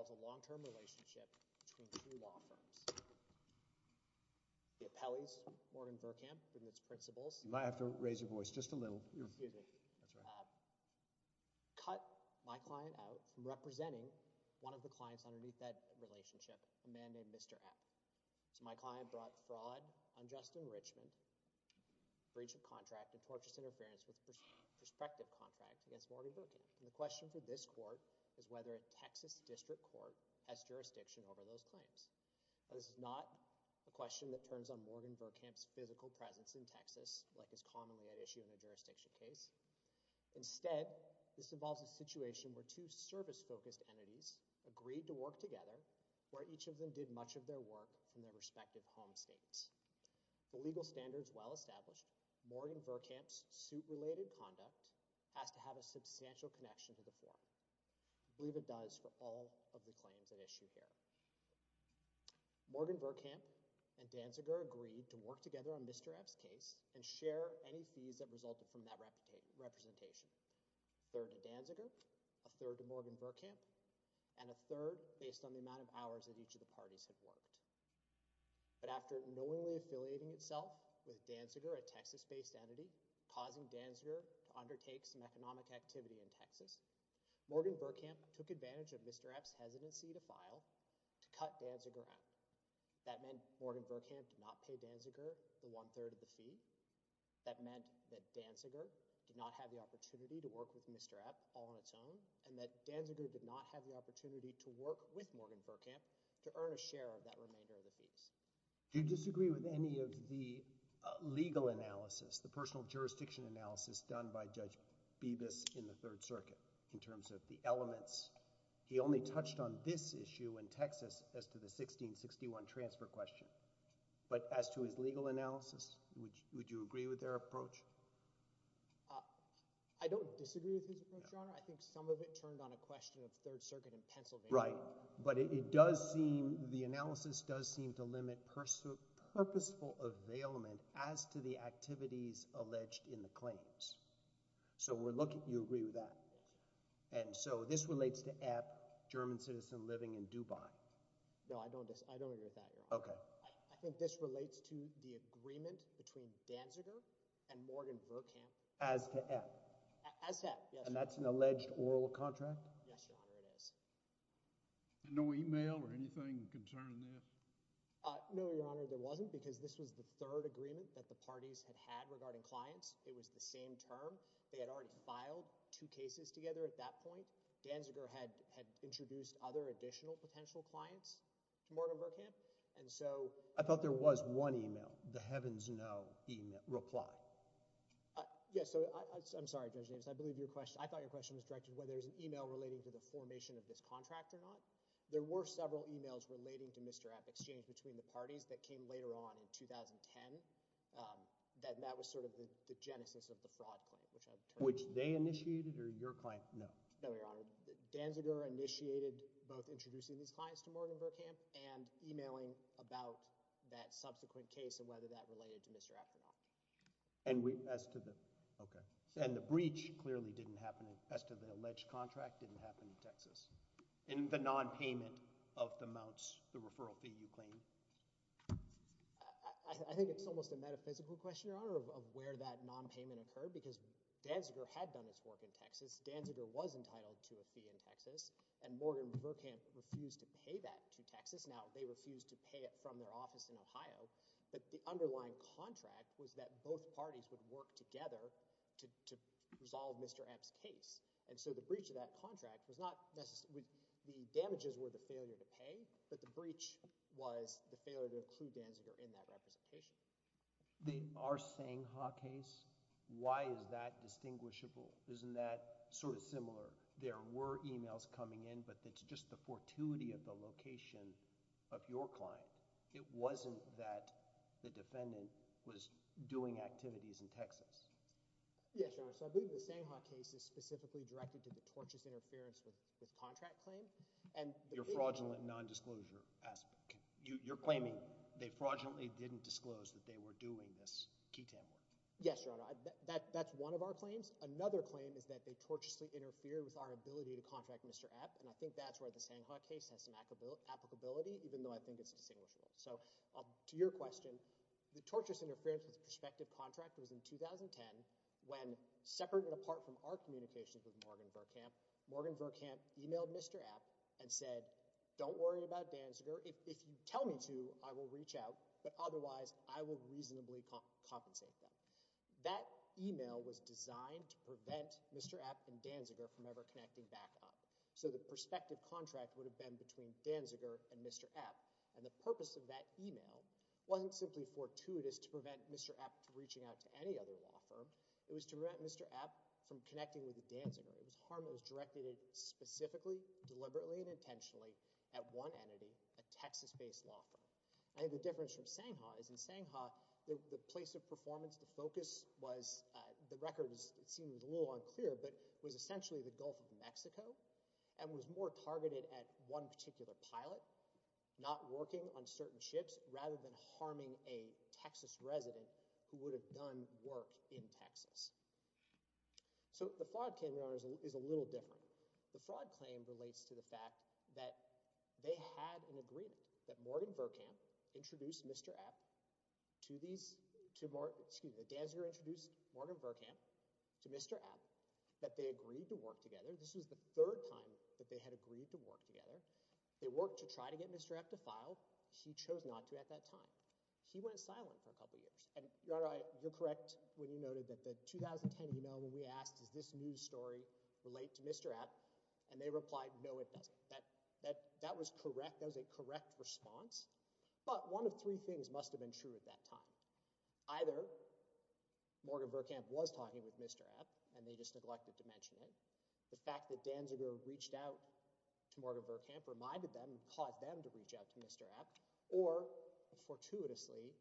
a long-term relationship between two law firms. The appellees, Morgan Verkamp and its principals cut my client out from representing one of the clients underneath that relationship, a man named Mr. App. My client brought fraud, unjust enrichment, breach of contract, and tortious interference with a prospective contract against Morgan Verkamp. The question for this court is whether a Texas district court has jurisdiction over those claims. Now, this is not a question that turns on Morgan Verkamp's physical presence in Texas like is commonly at issue in a jurisdiction case. Instead, this involves a situation where two service-focused entities agreed to work together where each of them did much of their work from their respective home states. For legal standards well established, Morgan Verkamp's suit-related conduct has to have a substantial connection to the forum. I believe it does for all of the claims at issue here. Morgan Verkamp and Danziger agreed to work together on Mr. App's case and share any fees that resulted from that representation, a third to Danziger, a third to Morgan Verkamp, and a third based on the amount of hours that each of the parties had worked. But after knowingly affiliating itself with Danziger, a Texas-based entity, causing Danziger to undertake some economic activity in Texas, Morgan Verkamp took advantage of Mr. App's hesitancy to file to cut Danziger out. That meant Morgan Verkamp did not pay Danziger the one-third of the fee. That meant that Danziger did not have the opportunity to work with Mr. App all on its own and that Danziger did not have the opportunity to work with Morgan Verkamp to earn a share of that remainder of the fees. Do you disagree with any of the legal analysis, the personal jurisdiction analysis done by Judge Bibas in the Third Circuit in terms of the elements? He only touched on this issue in Texas as to the 1661 transfer question. But as to his legal analysis, would you agree with their approach? I don't disagree with his approach, Your Honor. I think some of it turned on a question of Third Circuit in Pennsylvania. Right. But it does seem, the analysis does seem to limit purposeful availment as to the activities alleged in the claims. So we're looking, you agree with that? And so this relates to App, German citizen living in Dubai. No, I don't, I don't agree with that, Your Honor. Okay. I think this relates to the agreement between Danziger and Morgan Verkamp. As to App? As to App, yes, Your Honor. And that's an alleged oral contract? Yes, Your Honor, it is. And no email or anything concerning this? No, Your Honor, there wasn't because this was the third agreement that the parties had had regarding clients. It was the same term. They had already filed two cases together at that point. Danziger had introduced other additional potential clients to Morgan Verkamp. And so— I thought there was one email, the Heavens Know email, reply. Yes, so I'm sorry, Judge Names. I believe your question, I thought your question was directed whether there's an email relating to the formation of this contract or not. There were several emails relating to Mr. App Exchange between the parties that came later on in 2010. That that was sort of the genesis of the fraud claim, which I've— Which they initiated or your client? No. No, Your Honor. Danziger initiated both introducing these clients to Morgan Verkamp and emailing about that subsequent case and whether that related to Mr. App or not. And we, as to the, okay. And the breach clearly didn't happen, as to the alleged contract, didn't happen in Texas. And the nonpayment of the mounts, the referral fee, you claim? I think it's almost a metaphysical question, Your Honor, of where that nonpayment occurred because Danziger had done its work in Texas. Danziger was entitled to a fee in Texas, and Morgan Verkamp refused to pay that to Texas. Now, they refused to pay it from their office in Ohio, but the underlying contract was that both parties would work together to, to resolve Mr. App's case. And so the breach of that contract was not necessarily, the damages were the failure to pay, but the breach was the failure to include Danziger in that representation. The Arsene Ha case, why is that distinguishable? Isn't that sort of similar? There were emails coming in, but it's just the fortuity of the location of your client. It wasn't that the defendant was doing activities in Texas. Yes, Your Honor, so I believe the Senghaw case is specifically directed to the tortious interference with, with contract claim. And Your fraudulent nondisclosure aspect, you, you're claiming they fraudulently didn't disclose that they were doing this ketam work. Yes, Your Honor, that, that's one of our claims. Another claim is that they tortiously interfered with our ability to contract Mr. App, and I think that's where the Senghaw case has some applicability, even though I think it's not distinguishable. So, to your question, the tortious interference with prospective contract was in 2010, when separate and apart from our communications with Morgan Verkamp, Morgan Verkamp emailed Mr. App and said, don't worry about Danziger, if you tell me to, I will reach out, but otherwise I will reasonably compensate them. That email was designed to prevent Mr. App and Danziger from ever connecting back up. So the prospective contract would have been between Danziger and Mr. App, and the purpose of that email wasn't simply fortuitous to prevent Mr. App from reaching out to any other law firm. It was to prevent Mr. App from connecting with Danziger. It was harm that was directed specifically, deliberately, and intentionally at one entity, a Texas-based law firm. I think the difference from Senghaw is in Senghaw, the place of performance, the focus was, the record seems a little unclear, but was essentially the Gulf of Mexico, and was more targeted at one particular pilot, not working on certain ships, rather than harming a Texas resident who would have done work in Texas. So the fraud claim, Your Honor, is a little different. The fraud claim relates to the fact that they had an agreement, that Morgan Verkamp introduced Mr. App to these, excuse me, that Danziger introduced Morgan Verkamp to Mr. App, that they agreed to work together. This was the third time that they had agreed to work together. They worked to try to get Mr. App to file. He chose not to at that time. He went silent for a couple of years, and Your Honor, you're correct when you noted that the 2010 email when we asked, does this news story relate to Mr. App, and they replied, no it doesn't. That was correct. That was a correct response. But one of three things must have been true at that time. Either Morgan Verkamp was talking with Mr. App, and they just neglected to mention it. The fact that Danziger reached out to Morgan Verkamp reminded them, caused them to reach out to Mr. App, or fortuitously,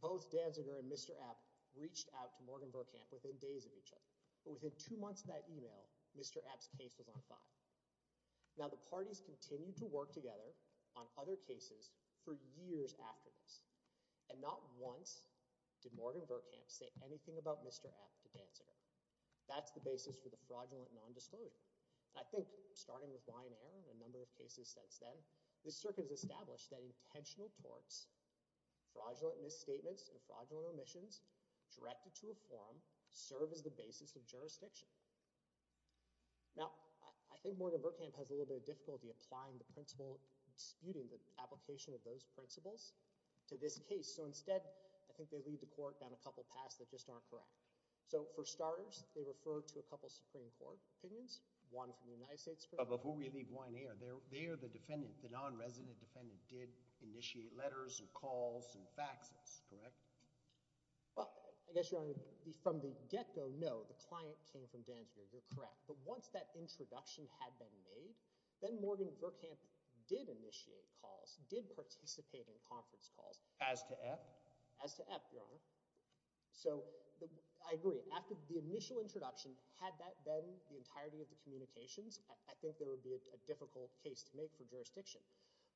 both Danziger and Mr. App reached out to Morgan Verkamp within days of each other. But within two months of that email, Mr. App's case was on file. Now the parties continued to work together on other cases for years after this, and not once did Morgan Verkamp say anything about Mr. App to Danziger. That's the basis for the fraudulent non-disclosure. I think, starting with Lion Air and a number of cases since then, the circuit has established that intentional torts, fraudulent misstatements, and fraudulent omissions directed to a forum serve as the basis of jurisdiction. Now, I think Morgan Verkamp has a little bit of difficulty applying the principle, disputing the application of those principles to this case. So instead, I think they leave the court down a couple paths that just aren't correct. So for starters, they refer to a couple Supreme Court opinions, one from the United States Supreme Court. But before we leave Lion Air, they're the defendant, the non-resident defendant did initiate letters and calls and faxes, correct? Well, I guess, Your Honor, from the get-go, no, the client came from Danziger, you're correct. But once that introduction had been made, then Morgan Verkamp did initiate calls, did participate in conference calls. As to App? As to App, Your Honor. So I agree, after the initial introduction, had that been the entirety of the communications, I think there would be a difficult case to make for jurisdiction.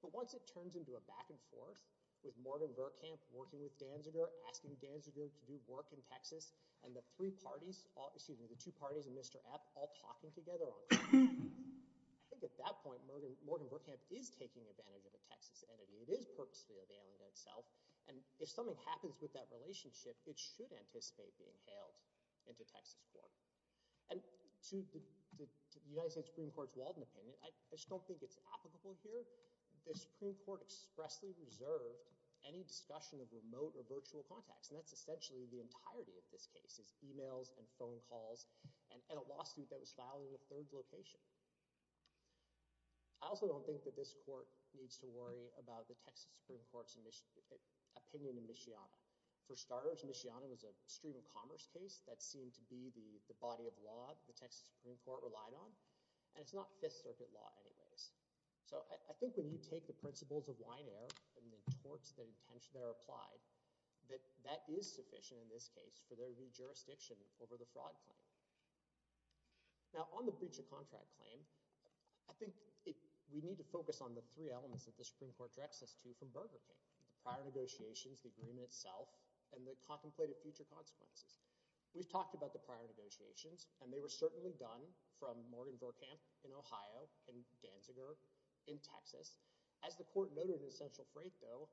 But once it turns into a back-and-forth, with Morgan Verkamp working with Danziger, asking Danziger to do work in Texas, and the three parties, excuse me, the two parties and Mr. App all talking together on it, I think at that point, Morgan Verkamp is taking advantage of a Texas entity. It is purposefully availing itself. And if something happens with that relationship, it should anticipate being hailed into Texas court. And to the United States Supreme Court's Walden opinion, I just don't think it's applicable here. The Supreme Court expressly reserved any discussion of remote or virtual contacts, and that's essentially the entirety of this case, is emails and phone calls, and a lawsuit that was filed in the third location. I also don't think that this court needs to worry about the Texas Supreme Court's opinion in Mishiana. For starters, Mishiana was a stream of commerce case that seemed to be the body of law the Texas Supreme Court relied on, and it's not Fifth Circuit law anyways. So I think when you take the principles of wide air and the torts that are applied, that is sufficient in this case for there to be jurisdiction over the fraud claim. Now on the breach of contract claim, I think we need to focus on the three elements that the Supreme Court directs us to from Burger King, the prior negotiations, the agreement itself, and the contemplated future consequences. We've talked about the prior negotiations, and they were certainly done from Morgan Verkamp in Ohio and Danziger in Texas. As the court noted in Central Freight, though,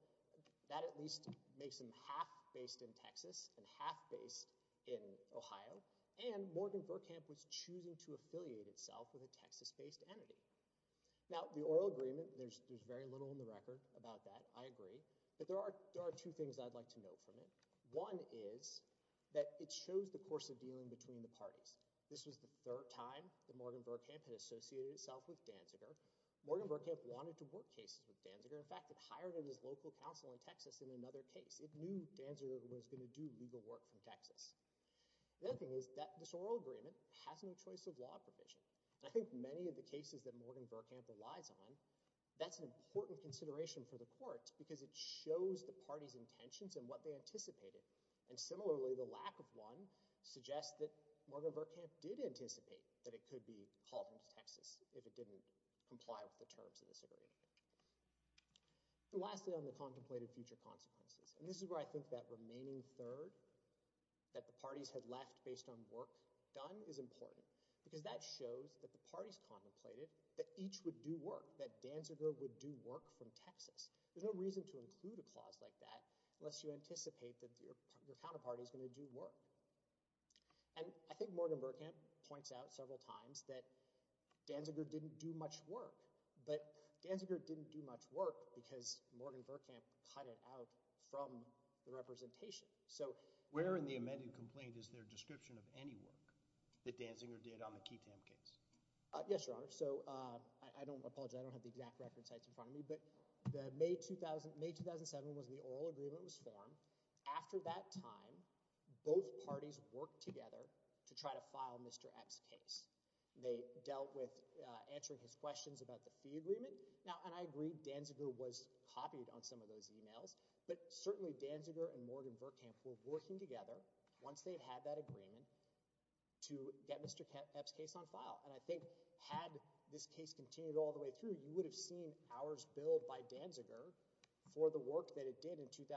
that at least makes them half based in Texas and half based in Ohio, and Morgan Verkamp was choosing to affiliate itself with a Texas-based entity. Now the oral agreement, there's very little in the record about that, I agree, but there are two things I'd like to note from it. One is that it shows the course of dealing between the parties. This was the third time that Morgan Verkamp had associated itself with Danziger. Morgan Verkamp wanted to work cases with Danziger. In fact, it hired him as local counsel in Texas in another case. It knew Danziger was going to do legal work from Texas. The other thing is that this oral agreement has no choice of law provision. I think many of the cases that Morgan Verkamp relies on, that's an important consideration for the court, because it shows the parties' intentions and what they anticipated. And similarly, the lack of one suggests that Morgan Verkamp did anticipate that it could be called into Texas if it didn't comply with the terms of this agreement. Lastly on the contemplated future consequences, and this is where I think that remaining third that the parties had left based on work done is important, because that shows that the parties contemplated that each would do work, that Danziger would do work from Texas. There's no reason to include a clause like that unless you anticipate that your counterparty is going to do work. And I think Morgan Verkamp points out several times that Danziger didn't do much work, but Danziger didn't do much work because Morgan Verkamp cut it out from the representation. Where in the amended complaint is there a description of any work that Danziger did on the Ketam case? Yes, Your Honor. So, I don't, I apologize, I don't have the exact record sites in front of me, but the May 2000, May 2007 was when the oral agreement was formed. After that time, both parties worked together to try to file Mr. Epps' case. They dealt with answering his questions about the fee agreement, and I agree Danziger was copied on some of those emails, but certainly Danziger and Morgan Verkamp were working together once they had that agreement to get Mr. Epps' case on file. And I think had this case continued all the way through, you would have seen hours billed by Danziger for the work that it did in 2007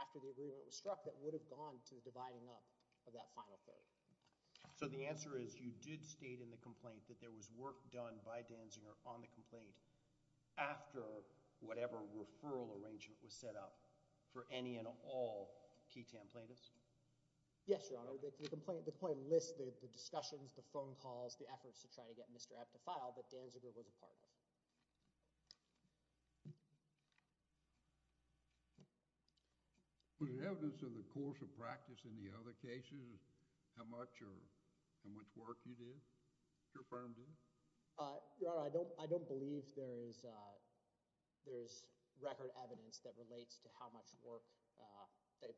after the agreement was struck that would have gone to the dividing up of that final third. So the answer is you did state in the complaint that there was work done by Danziger on the referral arrangement was set up for any and all Ketam plaintiffs? Yes, Your Honor. The complaint lists the discussions, the phone calls, the efforts to try to get Mr. Epps to file that Danziger was a part of. Was it evidence of the course of practice in the other cases, how much, or how much work you did, your firm did? Your Honor, I don't believe there is record evidence that relates to how much work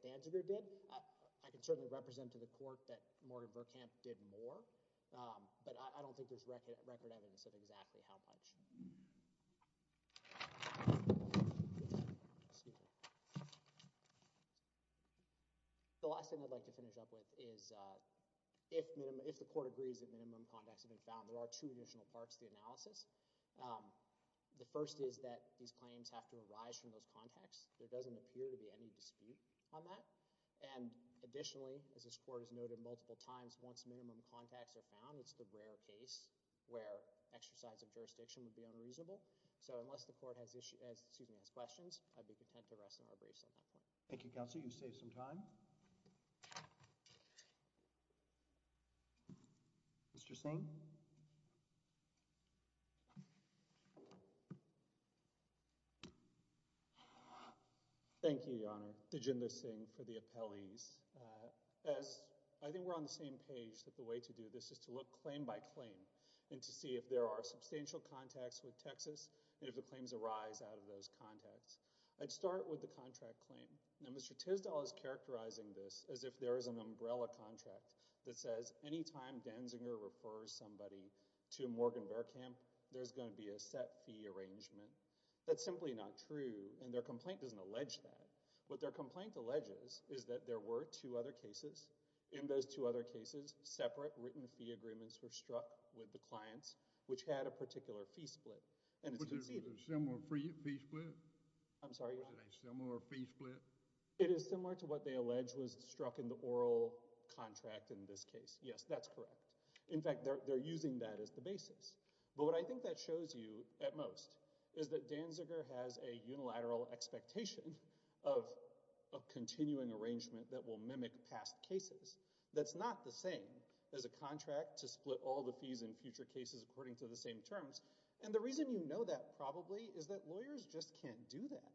Danziger did. I can certainly represent to the court that Morgan Verkamp did more, but I don't think there's record evidence of exactly how much. The last thing I'd like to finish up with is, if the court agrees that minimum contacts have been found, there are two additional parts to the analysis. The first is that these claims have to arise from those contacts. There doesn't appear to be any dispute on that, and additionally, as this court has noted multiple times, once minimum contacts are found, it's the rare case where exercise of jurisdiction would be unreasonable. So unless the court has questions, I'd be content to rest on our briefs at that point. Thank you, Counsel. You've saved some time. Mr. Singh? Thank you, Your Honor, Dijinder Singh for the appellees. I think we're on the same page that the way to do this is to look claim by claim and to see if there are substantial contacts with Texas and if the claims arise out of those contacts. I'd start with the contract claim. Now, Mr. Tisdall is characterizing this as if there is an umbrella contract that says any time Denzinger refers somebody to Morgan-Behrkamp, there's going to be a set fee arrangement. That's simply not true, and their complaint doesn't allege that. What their complaint alleges is that there were two other cases. In those two other cases, separate written fee agreements were struck with the clients which had a particular fee split. Was it a similar fee split? I'm sorry, Your Honor? Was it a similar fee split? It is similar to what they allege was struck in the oral contract in this case. Yes, that's correct. In fact, they're using that as the basis. But what I think that shows you at most is that Denzinger has a unilateral expectation of a continuing arrangement that will mimic past cases. That's not the same as a contract to split all the fees in future cases according to the same terms. And the reason you know that probably is that lawyers just can't do that.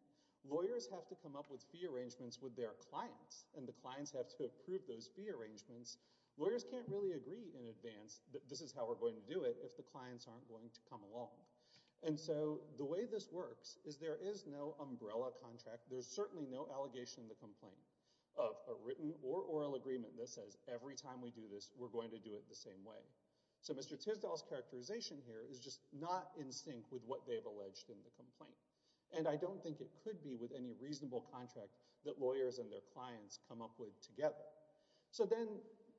Lawyers have to come up with fee arrangements with their clients, and the clients have to approve those fee arrangements. Lawyers can't really agree in advance that this is how we're going to do it if the clients aren't going to come along. And so the way this works is there is no umbrella contract. There's certainly no allegation in the complaint of a written or oral agreement that says every time we do this, we're going to do it the same way. So Mr. Tisdall's characterization here is just not in sync with what they've alleged in the complaint. And I don't think it could be with any reasonable contract that lawyers and their clients come up with together. So then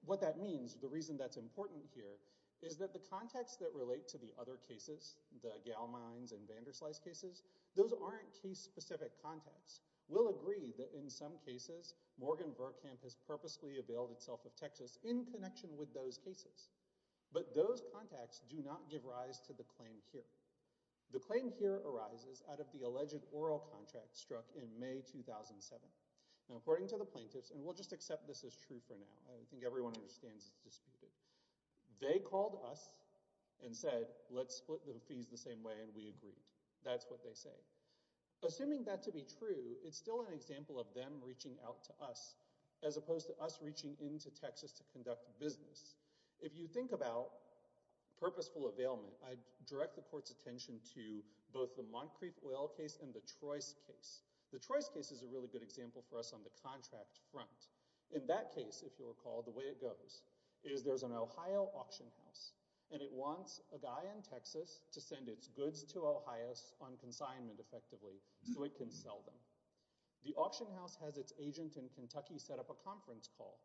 what that means, the reason that's important here, is that the contacts that relate to the other cases, the Gale Mines and Vanderslice cases, those aren't case-specific contacts. We'll agree that in some cases, Morgan Burkamp has purposely availed itself of Texas in connection with those cases. But those contacts do not give rise to the claim here. The claim here arises out of the alleged oral contract struck in May 2007. And according to the plaintiffs, and we'll just accept this as true for now, I think everyone understands it's disputed, they called us and said, let's split the fees the same way and we agreed. That's what they say. Assuming that to be true, it's still an example of them reaching out to us as opposed to us reaching into Texas to conduct business. If you think about purposeful availment, I direct the court's attention to both the Moncrieff Oil case and the Trois case. The Trois case is a really good example for us on the contract front. In that case, if you recall, the way it goes is there's an Ohio auction house and it wants a guy in Texas to send its goods to Ohio on consignment effectively so it can sell them. The auction house has its agent in Kentucky set up a conference call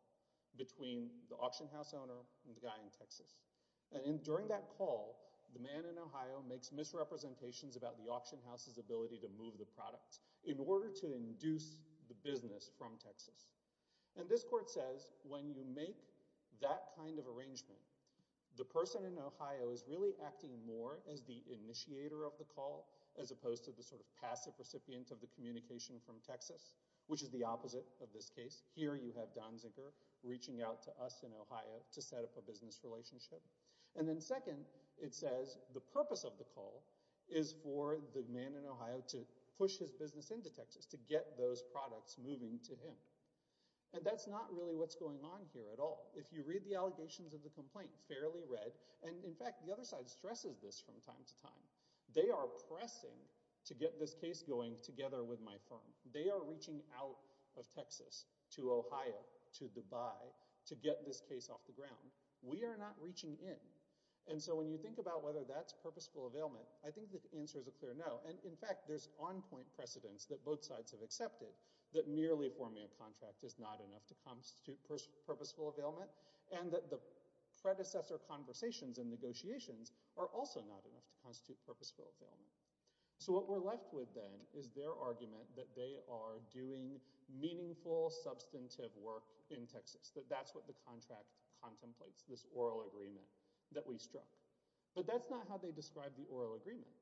between the auction house owner and the guy in Texas. During that call, the man in Ohio makes misrepresentations about the auction house's ability to move the products in order to induce the business from Texas. And this court says when you make that kind of arrangement, the person in Ohio is really acting more as the initiator of the call as opposed to the sort of passive recipient of the communication from Texas, which is the opposite of this case. Here you have Don Zinker reaching out to us in Ohio to set up a business relationship. And then second, it says the purpose of the call is for the man in Ohio to push his business into Texas to get those products moving to him. And that's not really what's going on here at all. If you read the allegations of the complaint fairly read, and in fact the other side stresses this from time to time, they are pressing to get this case going together with my firm. They are reaching out of Texas to Ohio, to Dubai, to get this case off the ground. We are not reaching in. And so when you think about whether that's purposeful availment, I think the answer is a clear no. And in fact, there's on-point precedence that both sides have accepted that merely forming a contract is not enough to constitute purposeful availment, and that the predecessor conversations and negotiations are also not enough to constitute purposeful availment. So what we're left with then is their argument that they are doing meaningful, substantive work in Texas, that that's what the contract contemplates, this oral agreement that we struck. But that's not how they describe the oral agreement.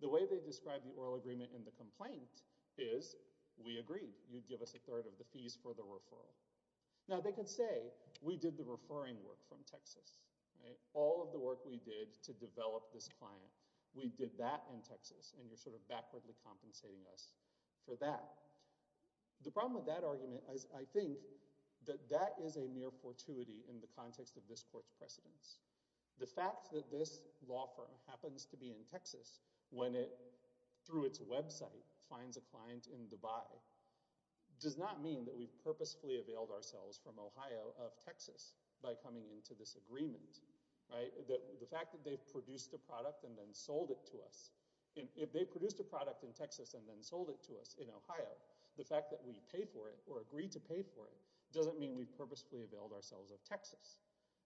The way they describe the oral agreement in the complaint is, we agreed, you'd give us a third of the fees for the referral. Now they could say, we did the referring work from Texas. All of the work we did to develop this client. We did that in Texas, and you're sort of backwardly compensating us for that. The problem with that argument is, I think, that that is a mere fortuity in the context of this court's precedence. The fact that this law firm happens to be in Texas, when it, through its website, finds a client in Dubai, does not mean that we've purposefully availed ourselves from Ohio of Texas by coming into this agreement, right? The fact that they've produced a product and then sold it to us, if they've produced a product in Texas and then sold it to us in Ohio, the fact that we pay for it, or agreed to pay for it, doesn't mean we've purposefully availed ourselves of Texas.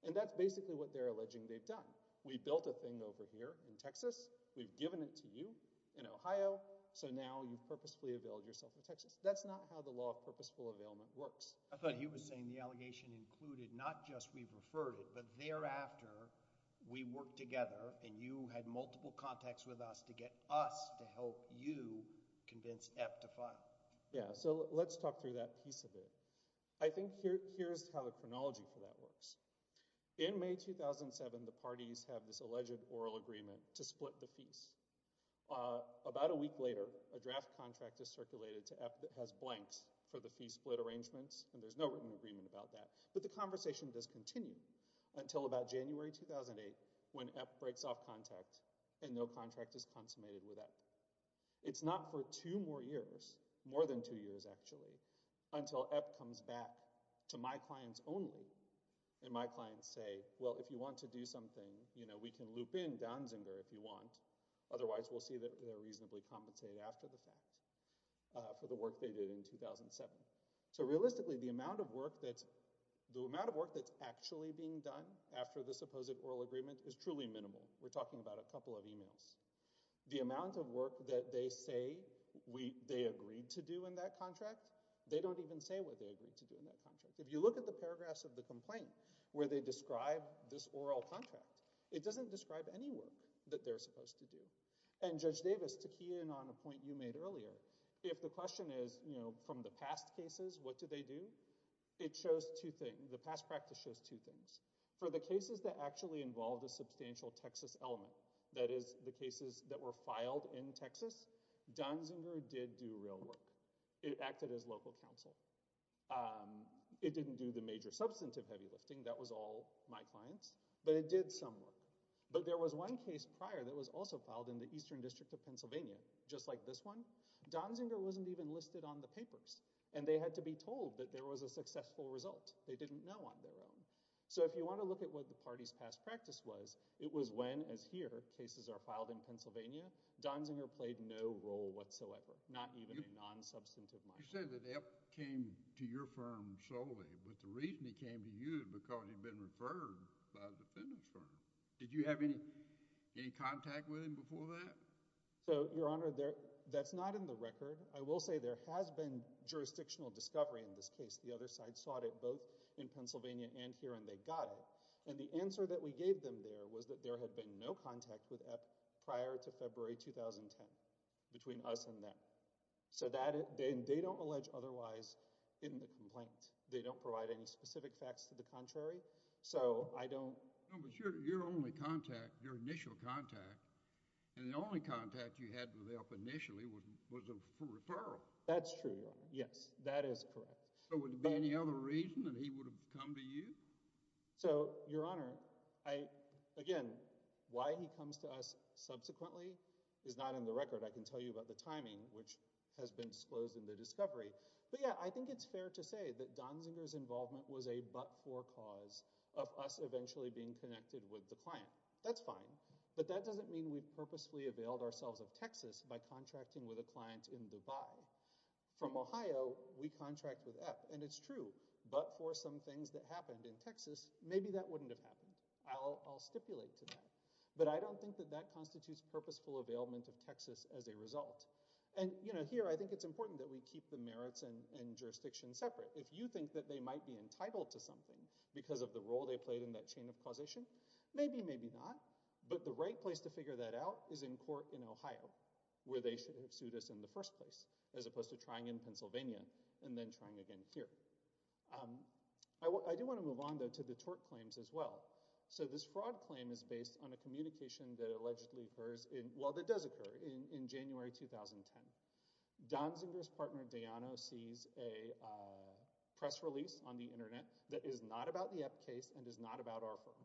And that's basically what they're alleging they've done. We built a thing over here in Texas, we've given it to you in Ohio, so now you've purposefully availed yourself of Texas. That's not how the law of purposeful availment works. I thought he was saying the allegation included not just we've referred it, but thereafter we worked together and you had multiple contacts with us to get us to help you convince EPP to file. Yeah, so let's talk through that piece of it. I think here's how the chronology for that works. In May 2007, the parties have this alleged oral agreement to split the fees. About a week later, a draft contract is circulated to EPP that has blanks for the fee split arrangements. There's no written agreement about that, but the conversation does continue until about January 2008 when EPP breaks off contact and no contract is consummated with EPP. It's not for two more years, more than two years actually, until EPP comes back to my clients only and my clients say, well, if you want to do something, we can loop in Danzinger if you want, otherwise we'll see that they're reasonably compensated after the fact for the work they did in 2007. So realistically, the amount of work that's actually being done after the supposed oral agreement is truly minimal. We're talking about a couple of emails. The amount of work that they say they agreed to do in that contract, they don't even say what they agreed to do in that contract. If you look at the paragraphs of the complaint where they describe this oral contract, it doesn't describe any work that they're supposed to do. And Judge Davis, to key in on a point you made earlier, if the question is, you know, from the past cases, what did they do? It shows two things. The past practice shows two things. For the cases that actually involved a substantial Texas element, that is the cases that were filed in Texas, Danzinger did do real work. It acted as local counsel. It didn't do the major substantive heavy lifting, that was all my clients, but it did some work. But there was one case prior that was also filed in the Eastern District of Pennsylvania, just like this one. Danzinger wasn't even listed on the papers, and they had to be told that there was a successful result. They didn't know on their own. So if you want to look at what the party's past practice was, it was when, as here, cases are filed in Pennsylvania, Danzinger played no role whatsoever, not even a non-substantive minor. You said that Epp came to your firm solely, but the reason he came to you is because he'd been referred by the defendant's firm. Did you have any contact with him before that? So, Your Honor, that's not in the record. I will say there has been jurisdictional discovery in this case. The other side sought it both in Pennsylvania and here, and they got it. And the answer that we gave them there was that there had been no contact with Epp prior to February 2010, between us and them. So they don't allege otherwise in the complaint. They don't provide any specific facts to the contrary. So I don't... No, but your only contact, your initial contact, and the only contact you had with Epp initially was for referral. That's true, Your Honor. Yes, that is correct. So would there be any other reason that he would have come to you? So, Your Honor, again, why he comes to us subsequently is not in the record. I can tell you about the timing, which has been disclosed in the discovery. But yeah, I think it's fair to say that Donziger's involvement was a but-for cause of us eventually being connected with the client. That's fine. But that doesn't mean we purposefully availed ourselves of Texas by contracting with a client in Dubai. From Ohio, we contract with Epp. And it's true. But for some things that happened in Texas, maybe that wouldn't have happened. I'll stipulate to that. But I don't think that that constitutes purposeful availment of Texas as a result. And here, I think it's important that we keep the merits and jurisdiction separate. If you think that they might be entitled to something because of the role they played in that chain of causation, maybe, maybe not. But the right place to figure that out is in court in Ohio, where they should have sued us in the first place, as opposed to trying in Pennsylvania and then trying again here. I do want to move on, though, to the tort claims as well. So this fraud claim is based on a communication that allegedly occurs in—well, that does occur in 2010. Don Zinger's partner, Dayano, sees a press release on the internet that is not about the Epp case and is not about our firm.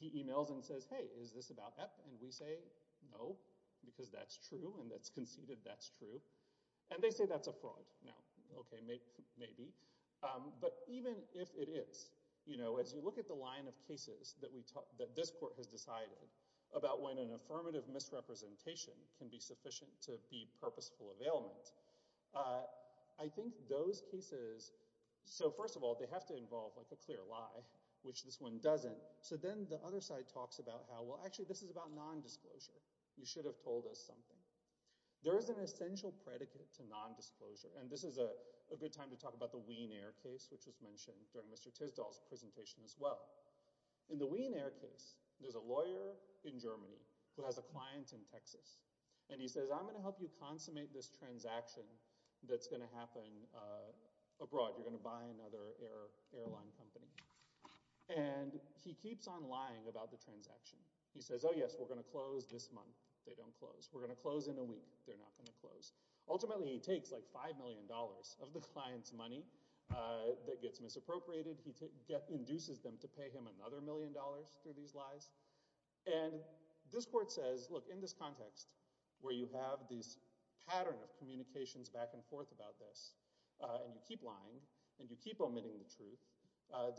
He emails and says, hey, is this about Epp? And we say, no, because that's true, and it's conceded that's true. And they say that's a fraud. Now, okay, maybe. But even if it is, you know, as you look at the line of cases that this court has decided about when an affirmative misrepresentation can be sufficient to be purposeful availment, I think those cases—so first of all, they have to involve like a clear lie, which this one doesn't. So then the other side talks about how, well, actually, this is about nondisclosure. You should have told us something. There is an essential predicate to nondisclosure, and this is a good time to talk about the Wiener case, which was mentioned during Mr. Tisdall's presentation as well. In the Wiener case, there's a lawyer in Germany who has a client in Texas, and he says, I'm going to help you consummate this transaction that's going to happen abroad. You're going to buy another airline company. And he keeps on lying about the transaction. He says, oh, yes, we're going to close this month. They don't close. We're going to close in a week. They're not going to close. Ultimately, he takes like $5 million of the client's money that gets misappropriated. He induces them to pay him another million dollars through these lies. And this court says, look, in this context where you have this pattern of communications back and forth about this, and you keep lying, and you keep omitting the truth,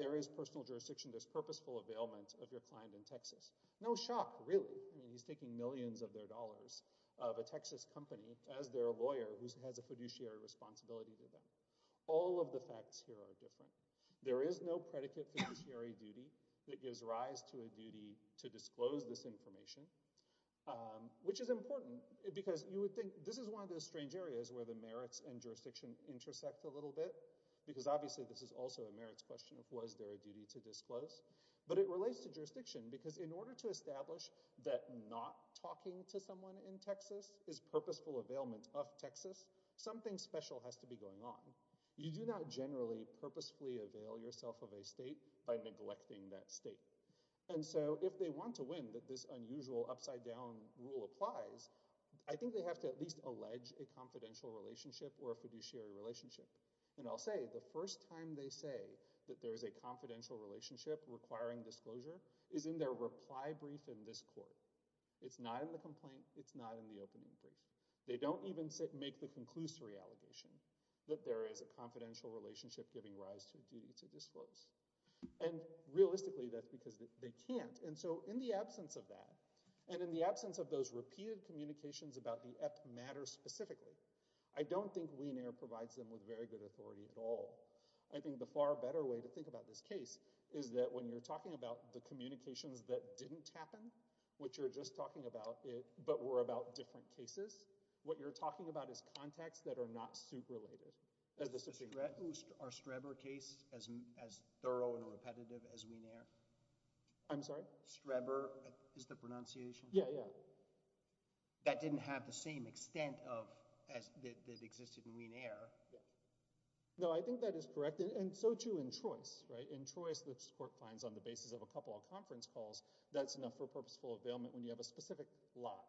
there is personal jurisdiction. There's purposeful availment of your client in Texas. No shock, really. I mean, he's taking millions of their dollars of a Texas company as their lawyer who has a fiduciary responsibility to them. All of the facts here are different. There is no predicate fiduciary duty that gives rise to a duty to disclose this information, which is important, because you would think this is one of those strange areas where the merits and jurisdiction intersect a little bit, because obviously this is also a merits question of was there a duty to disclose. But it relates to jurisdiction, because in order to establish that not talking to someone in Texas is purposeful availment of Texas, something special has to be going on. You do not generally purposefully avail yourself of a state by neglecting that state. And so if they want to win, that this unusual upside-down rule applies, I think they have to at least allege a confidential relationship or a fiduciary relationship. And I'll say, the first time they say that there is a confidential relationship requiring disclosure is in their reply brief in this court. It's not in the complaint. It's not in the opening brief. They don't even make the conclusory allegation that there is a confidential relationship giving rise to a duty to disclose. And realistically, that's because they can't. And so in the absence of that, and in the absence of those repeated communications about the EPP matter specifically, I don't think Wiener provides them with very good authority at all. I think the far better way to think about this case is that when you're talking about the communications that didn't happen, which are just talking about it, but were about different cases, what you're talking about is contacts that are not suit-related. Is the Streber case as thorough and repetitive as Wiener? I'm sorry? Streber is the pronunciation? Yeah, yeah. That didn't have the same extent that existed in Wiener. No, I think that is correct. And so, too, in Trois, right? In Trois, this court finds on the basis of a couple of conference calls, that's enough for purposeful availment when you have a specific lot,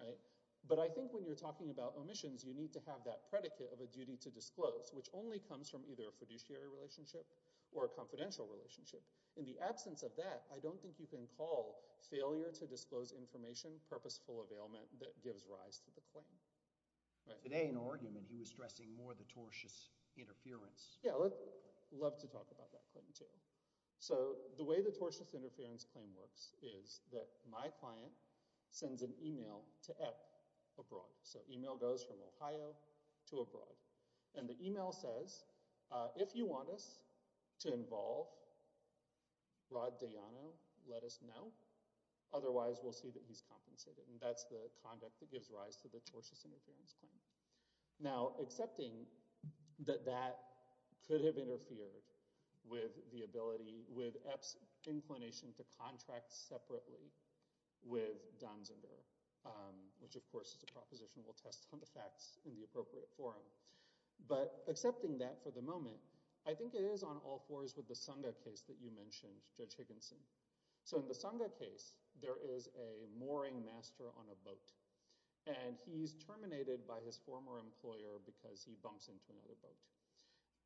right? But I think when you're talking about omissions, you need to have that predicate of a duty to disclose, which only comes from either a fiduciary relationship or a confidential relationship. In the absence of that, I don't think you can call failure to disclose information purposeful availment that gives rise to the claim. Today, in argument, he was stressing more the tortious interference. Yeah, I'd love to talk about that claim, too. So the way the tortious interference claim works is that my client sends an email to Epp abroad. So email goes from Ohio to abroad. And the email says, if you want us to involve Rod Dayano, let us know, otherwise we'll see that he's compensated. And that's the conduct that gives rise to the tortious interference claim. Now, accepting that that could have interfered with the ability, with Epp's inclination to contract separately with Donziger, which, of course, is a proposition we'll test on the facts in the appropriate forum. But accepting that for the moment, I think it is on all fours with the Sangha case that you mentioned, Judge Higginson. So in the Sangha case, there is a mooring master on a boat. And he's terminated by his former employer because he bumps into another boat.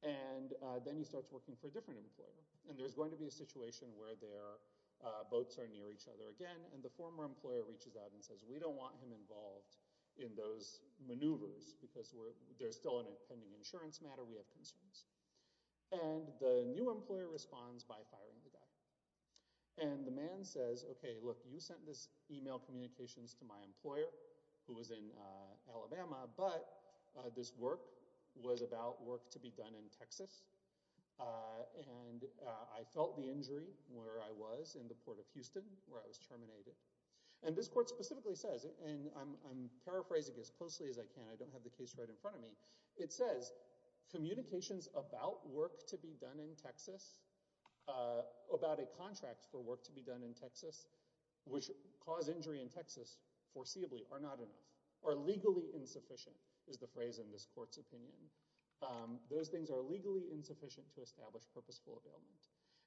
And then he starts working for a different employer. And there's going to be a situation where their boats are near each other again, and the former employer reaches out and says, we don't want him involved in those maneuvers because there's still an impending insurance matter, we have concerns. And the new employer responds by firing the guy. And the man says, okay, look, you sent this email communications to my employer, who was in Alabama, but this work was about work to be done in Texas. And I felt the injury where I was in the Port of Houston, where I was terminated. And this court specifically says, and I'm paraphrasing as closely as I can, I don't have the case right in front of me. It says, communications about work to be done in Texas, about a contract for work to be done in Texas, which caused injury in Texas, foreseeably, are not enough, are legally insufficient, is the phrase in this court's opinion. Those things are legally insufficient to establish purposeful availment.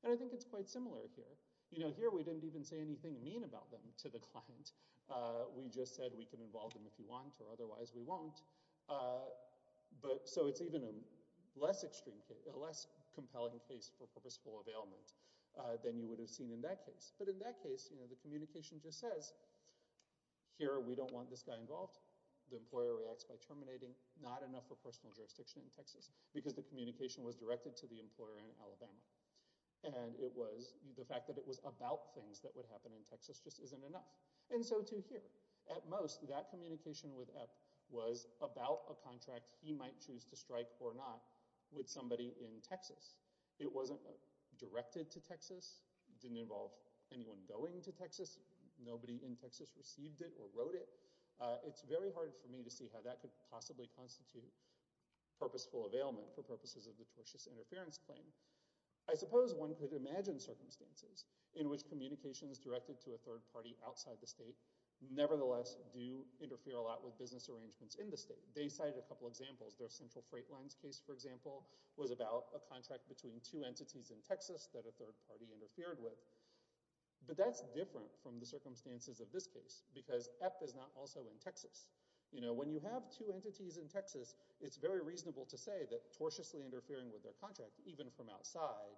And I think it's quite similar here. You know, here we didn't even say anything mean about them to the client. We just said we can involve them if you want, or otherwise we won't. So it's even a less extreme case, a less compelling case for purposeful availment than you would have seen in that case. But in that case, you know, the communication just says, here, we don't want this guy involved. The employer reacts by terminating, not enough for personal jurisdiction in Texas, because the communication was directed to the employer in Alabama. And it was, the fact that it was about things that would happen in Texas just isn't enough. And so, too, here, at most, that communication with Epp was about a contract he might choose to strike or not with somebody in Texas. It wasn't directed to Texas, didn't involve anyone going to Texas, nobody in Texas received it or wrote it. It's very hard for me to see how that could possibly constitute purposeful availment for purposes of the tortious interference claim. A third party outside the state, nevertheless, do interfere a lot with business arrangements in the state. They cited a couple examples. Their Central Freight Lines case, for example, was about a contract between two entities in Texas that a third party interfered with. But that's different from the circumstances of this case, because Epp is not also in Texas. You know, when you have two entities in Texas, it's very reasonable to say that tortiously interfering with their contract, even from outside,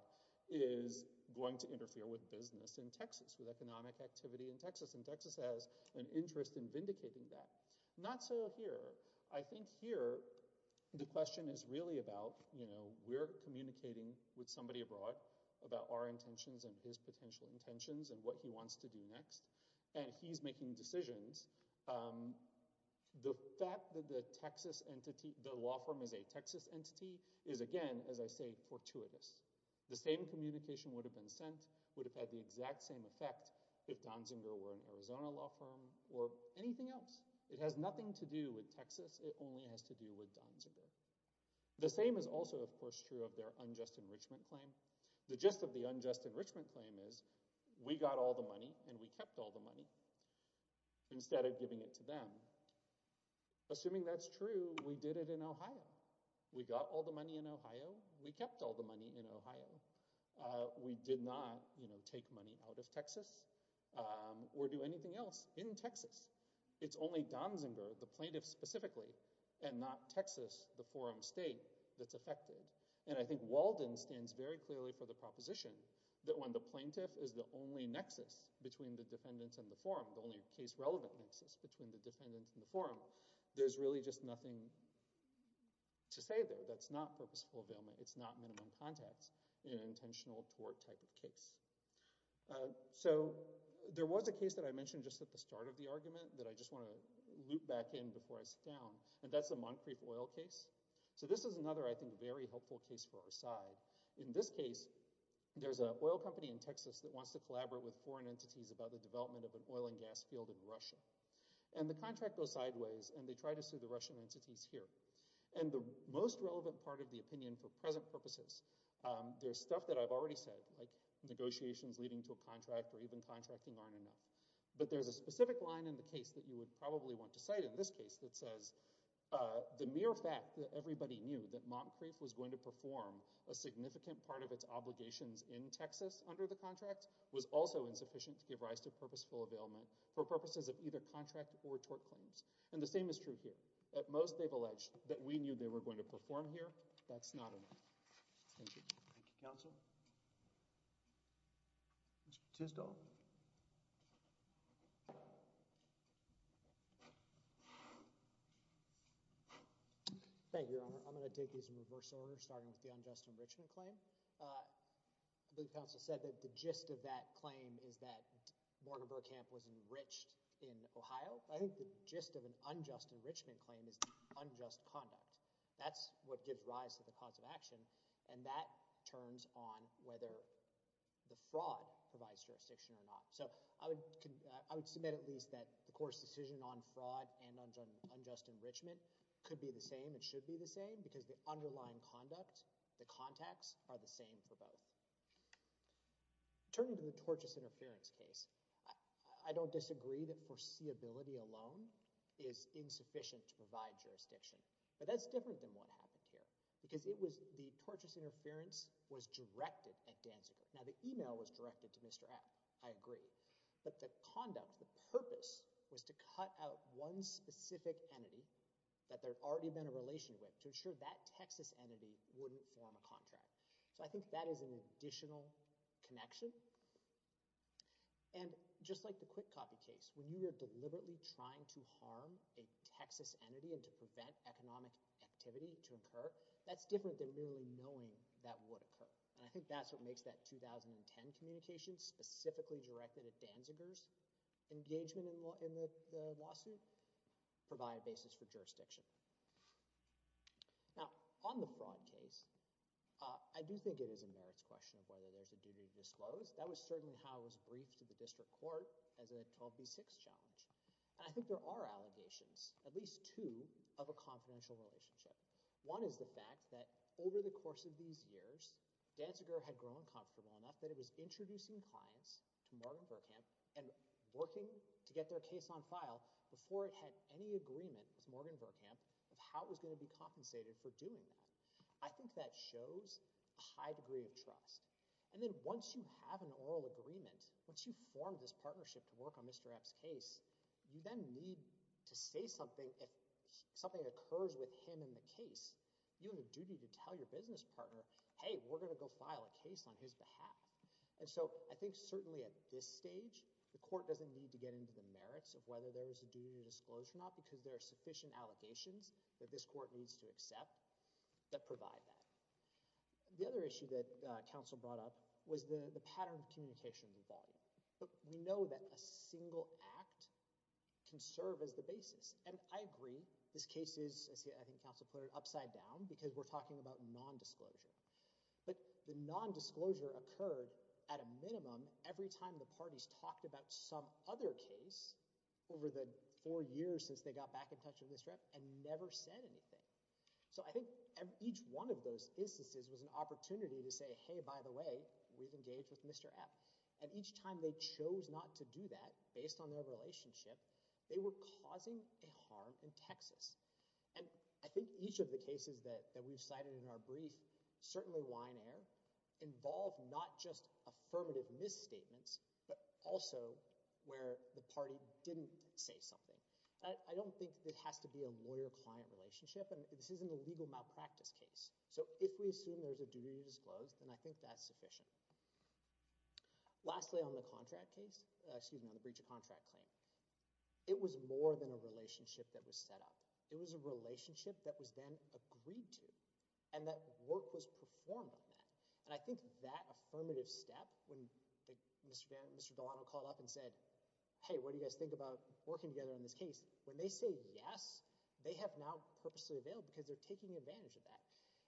is going to interfere with business in Texas, with economic activity in Texas. And Texas has an interest in vindicating that. Not so here. I think here, the question is really about, you know, we're communicating with somebody abroad about our intentions and his potential intentions and what he wants to do next. And he's making decisions. The fact that the Texas entity, the law firm is a Texas entity, is, again, as I say, fortuitous. The same communication would have been sent, would have had the exact same effect if Donziger were an Arizona law firm or anything else. It has nothing to do with Texas. It only has to do with Donziger. The same is also, of course, true of their unjust enrichment claim. The gist of the unjust enrichment claim is, we got all the money and we kept all the money instead of giving it to them. Assuming that's true, we did it in Ohio. We got all the money in Ohio. We kept all the money in Ohio. We did not, you know, take money out of Texas or do anything else in Texas. It's only Donziger, the plaintiff specifically, and not Texas, the forum state, that's affected. And I think Walden stands very clearly for the proposition that when the plaintiff is the only nexus between the defendants and the forum, the only case-relevant nexus between the defendants and the forum, there's really just nothing to say there that's not purposeful availment. It's not minimum contacts in an intentional tort type of case. So there was a case that I mentioned just at the start of the argument that I just want to loop back in before I sit down, and that's the Moncrief oil case. So this is another, I think, very helpful case for our side. In this case, there's an oil company in Texas that wants to collaborate with foreign entities about the development of an oil and gas field in Russia. And the contract goes sideways, and they try to sue the Russian entities here. And the most relevant part of the opinion for present purposes, there's stuff that I've already said, like negotiations leading to a contract or even contracting aren't enough. But there's a specific line in the case that you would probably want to cite in this case that says, the mere fact that everybody knew that Moncrief was going to perform a significant part of its obligations in Texas under the contract was also insufficient to give rise to purposeful availment for purposes of either contract or tort claims. And the same is true here. At most, they've alleged that we knew they were going to perform here. That's not enough. Thank you. Thank you, counsel. Mr. Tisdall? Thank you, Your Honor. I'm going to take these in reverse order, starting with the unjust enrichment claim. I believe counsel said that the gist of that claim is that Morten Bergkamp was enriched in Ohio. I think the gist of an unjust enrichment claim is the unjust conduct. That's what gives rise to the cause of action, and that turns on whether the fraud provides jurisdiction or not. So I would submit at least that the court's decision on fraud and on unjust enrichment could be the same and should be the same, because the underlying conduct, the contacts are the same for both. Turning to the tortious interference case, I don't disagree that foreseeability alone is insufficient to provide jurisdiction, but that's different than what happened here, because the tortious interference was directed at Danziger. Now, the email was directed to Mr. F., I agree, but the conduct, the purpose was to cut out one specific entity that there had already been a relation with to ensure that Texas entity wouldn't form a contract. So I think that is an additional connection. And just like the quick copy case, when you are deliberately trying to harm a Texas entity and to prevent economic activity to occur, that's different than merely knowing that would occur. And I think that's what makes that 2010 communication specifically directed at Danziger's engagement in the lawsuit provide a basis for jurisdiction. Now, on the fraud case, I do think it is a merits question of whether there's a duty to disclose. That was certainly how it was briefed to the district court as a 12B6 challenge. And I think there are allegations, at least two, of a confidential relationship. One is the fact that over the course of these years, Danziger had grown comfortable enough that it was introducing clients to Morgan Berkamp and working to get their case on file before it had any agreement with Morgan Berkamp of how it was going to be compensated for doing that. I think that shows a high degree of trust. And then once you have an oral agreement, once you form this partnership to work on Mr. Epps' case, you then need to say something if something occurs with him in the case. You have a duty to tell your business partner, hey, we're going to go file a case on his behalf. And so I think certainly at this stage, the court doesn't need to get into the merits of whether there is a duty to disclose or not because there are sufficient allegations that this court needs to accept that provide that. The other issue that counsel brought up was the pattern of communication of the body. We know that a single act can serve as the basis. And I agree, this case is, as I think counsel put it, upside down because we're talking about non-disclosure. But the non-disclosure occurred at a minimum every time the parties talked about some other case over the four years since they got back in touch with Mr. Epps and never said anything. So I think each one of those instances was an opportunity to say, hey, by the way, we've engaged with Mr. Epps. And each time they chose not to do that, based on their relationship, they were causing a harm in Texas. And I think each of the cases that we've cited in our brief, certainly Winer, involve not just affirmative misstatements, but also where the party didn't say something. I don't think it has to be a lawyer-client relationship, and this isn't a legal malpractice case. So if we assume there's a duty to disclose, then I think that's sufficient. Lastly on the contract case, excuse me, on the breach of contract claim, it was more than a relationship that was set up. It was a relationship that was then agreed to and that work was performed on that. And I think that affirmative step, when Mr. Delano called up and said, hey, what do you guys think about working together on this case, when they say yes, they have now purposely availed because they're taking advantage of that.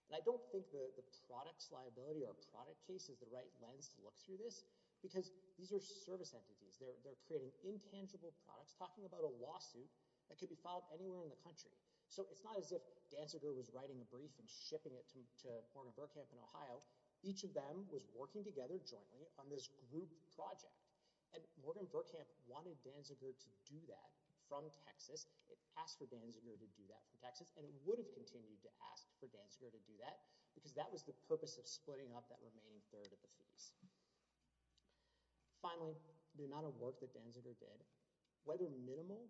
And I don't think the products liability or product case is the right lens to look through this because these are service entities. They're creating intangible products, talking about a lawsuit that could be filed anywhere in the country. So it's not as if Danziger was writing a brief and shipping it to Morgan Burkhamp in Ohio. Each of them was working together jointly on this group project, and Morgan Burkhamp wanted Danziger to do that from Texas. It asked for Danziger to do that from Texas, and it would have continued to ask for Danziger to do that because that was the purpose of splitting up that remaining third of the fees. Finally, the amount of work that Danziger did, whether minimal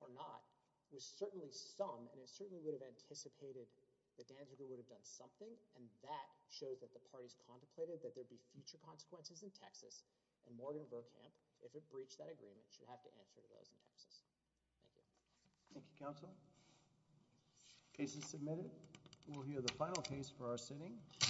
or not, was certainly some, and it certainly would have anticipated that Danziger would have done something, and that shows that the parties contemplated that there'd be future consequences in Texas, and Morgan Burkhamp, if it breached that agreement, should have to answer to those in Texas. Thank you. Thank you, counsel. Case is submitted. We'll hear the final case for our sitting.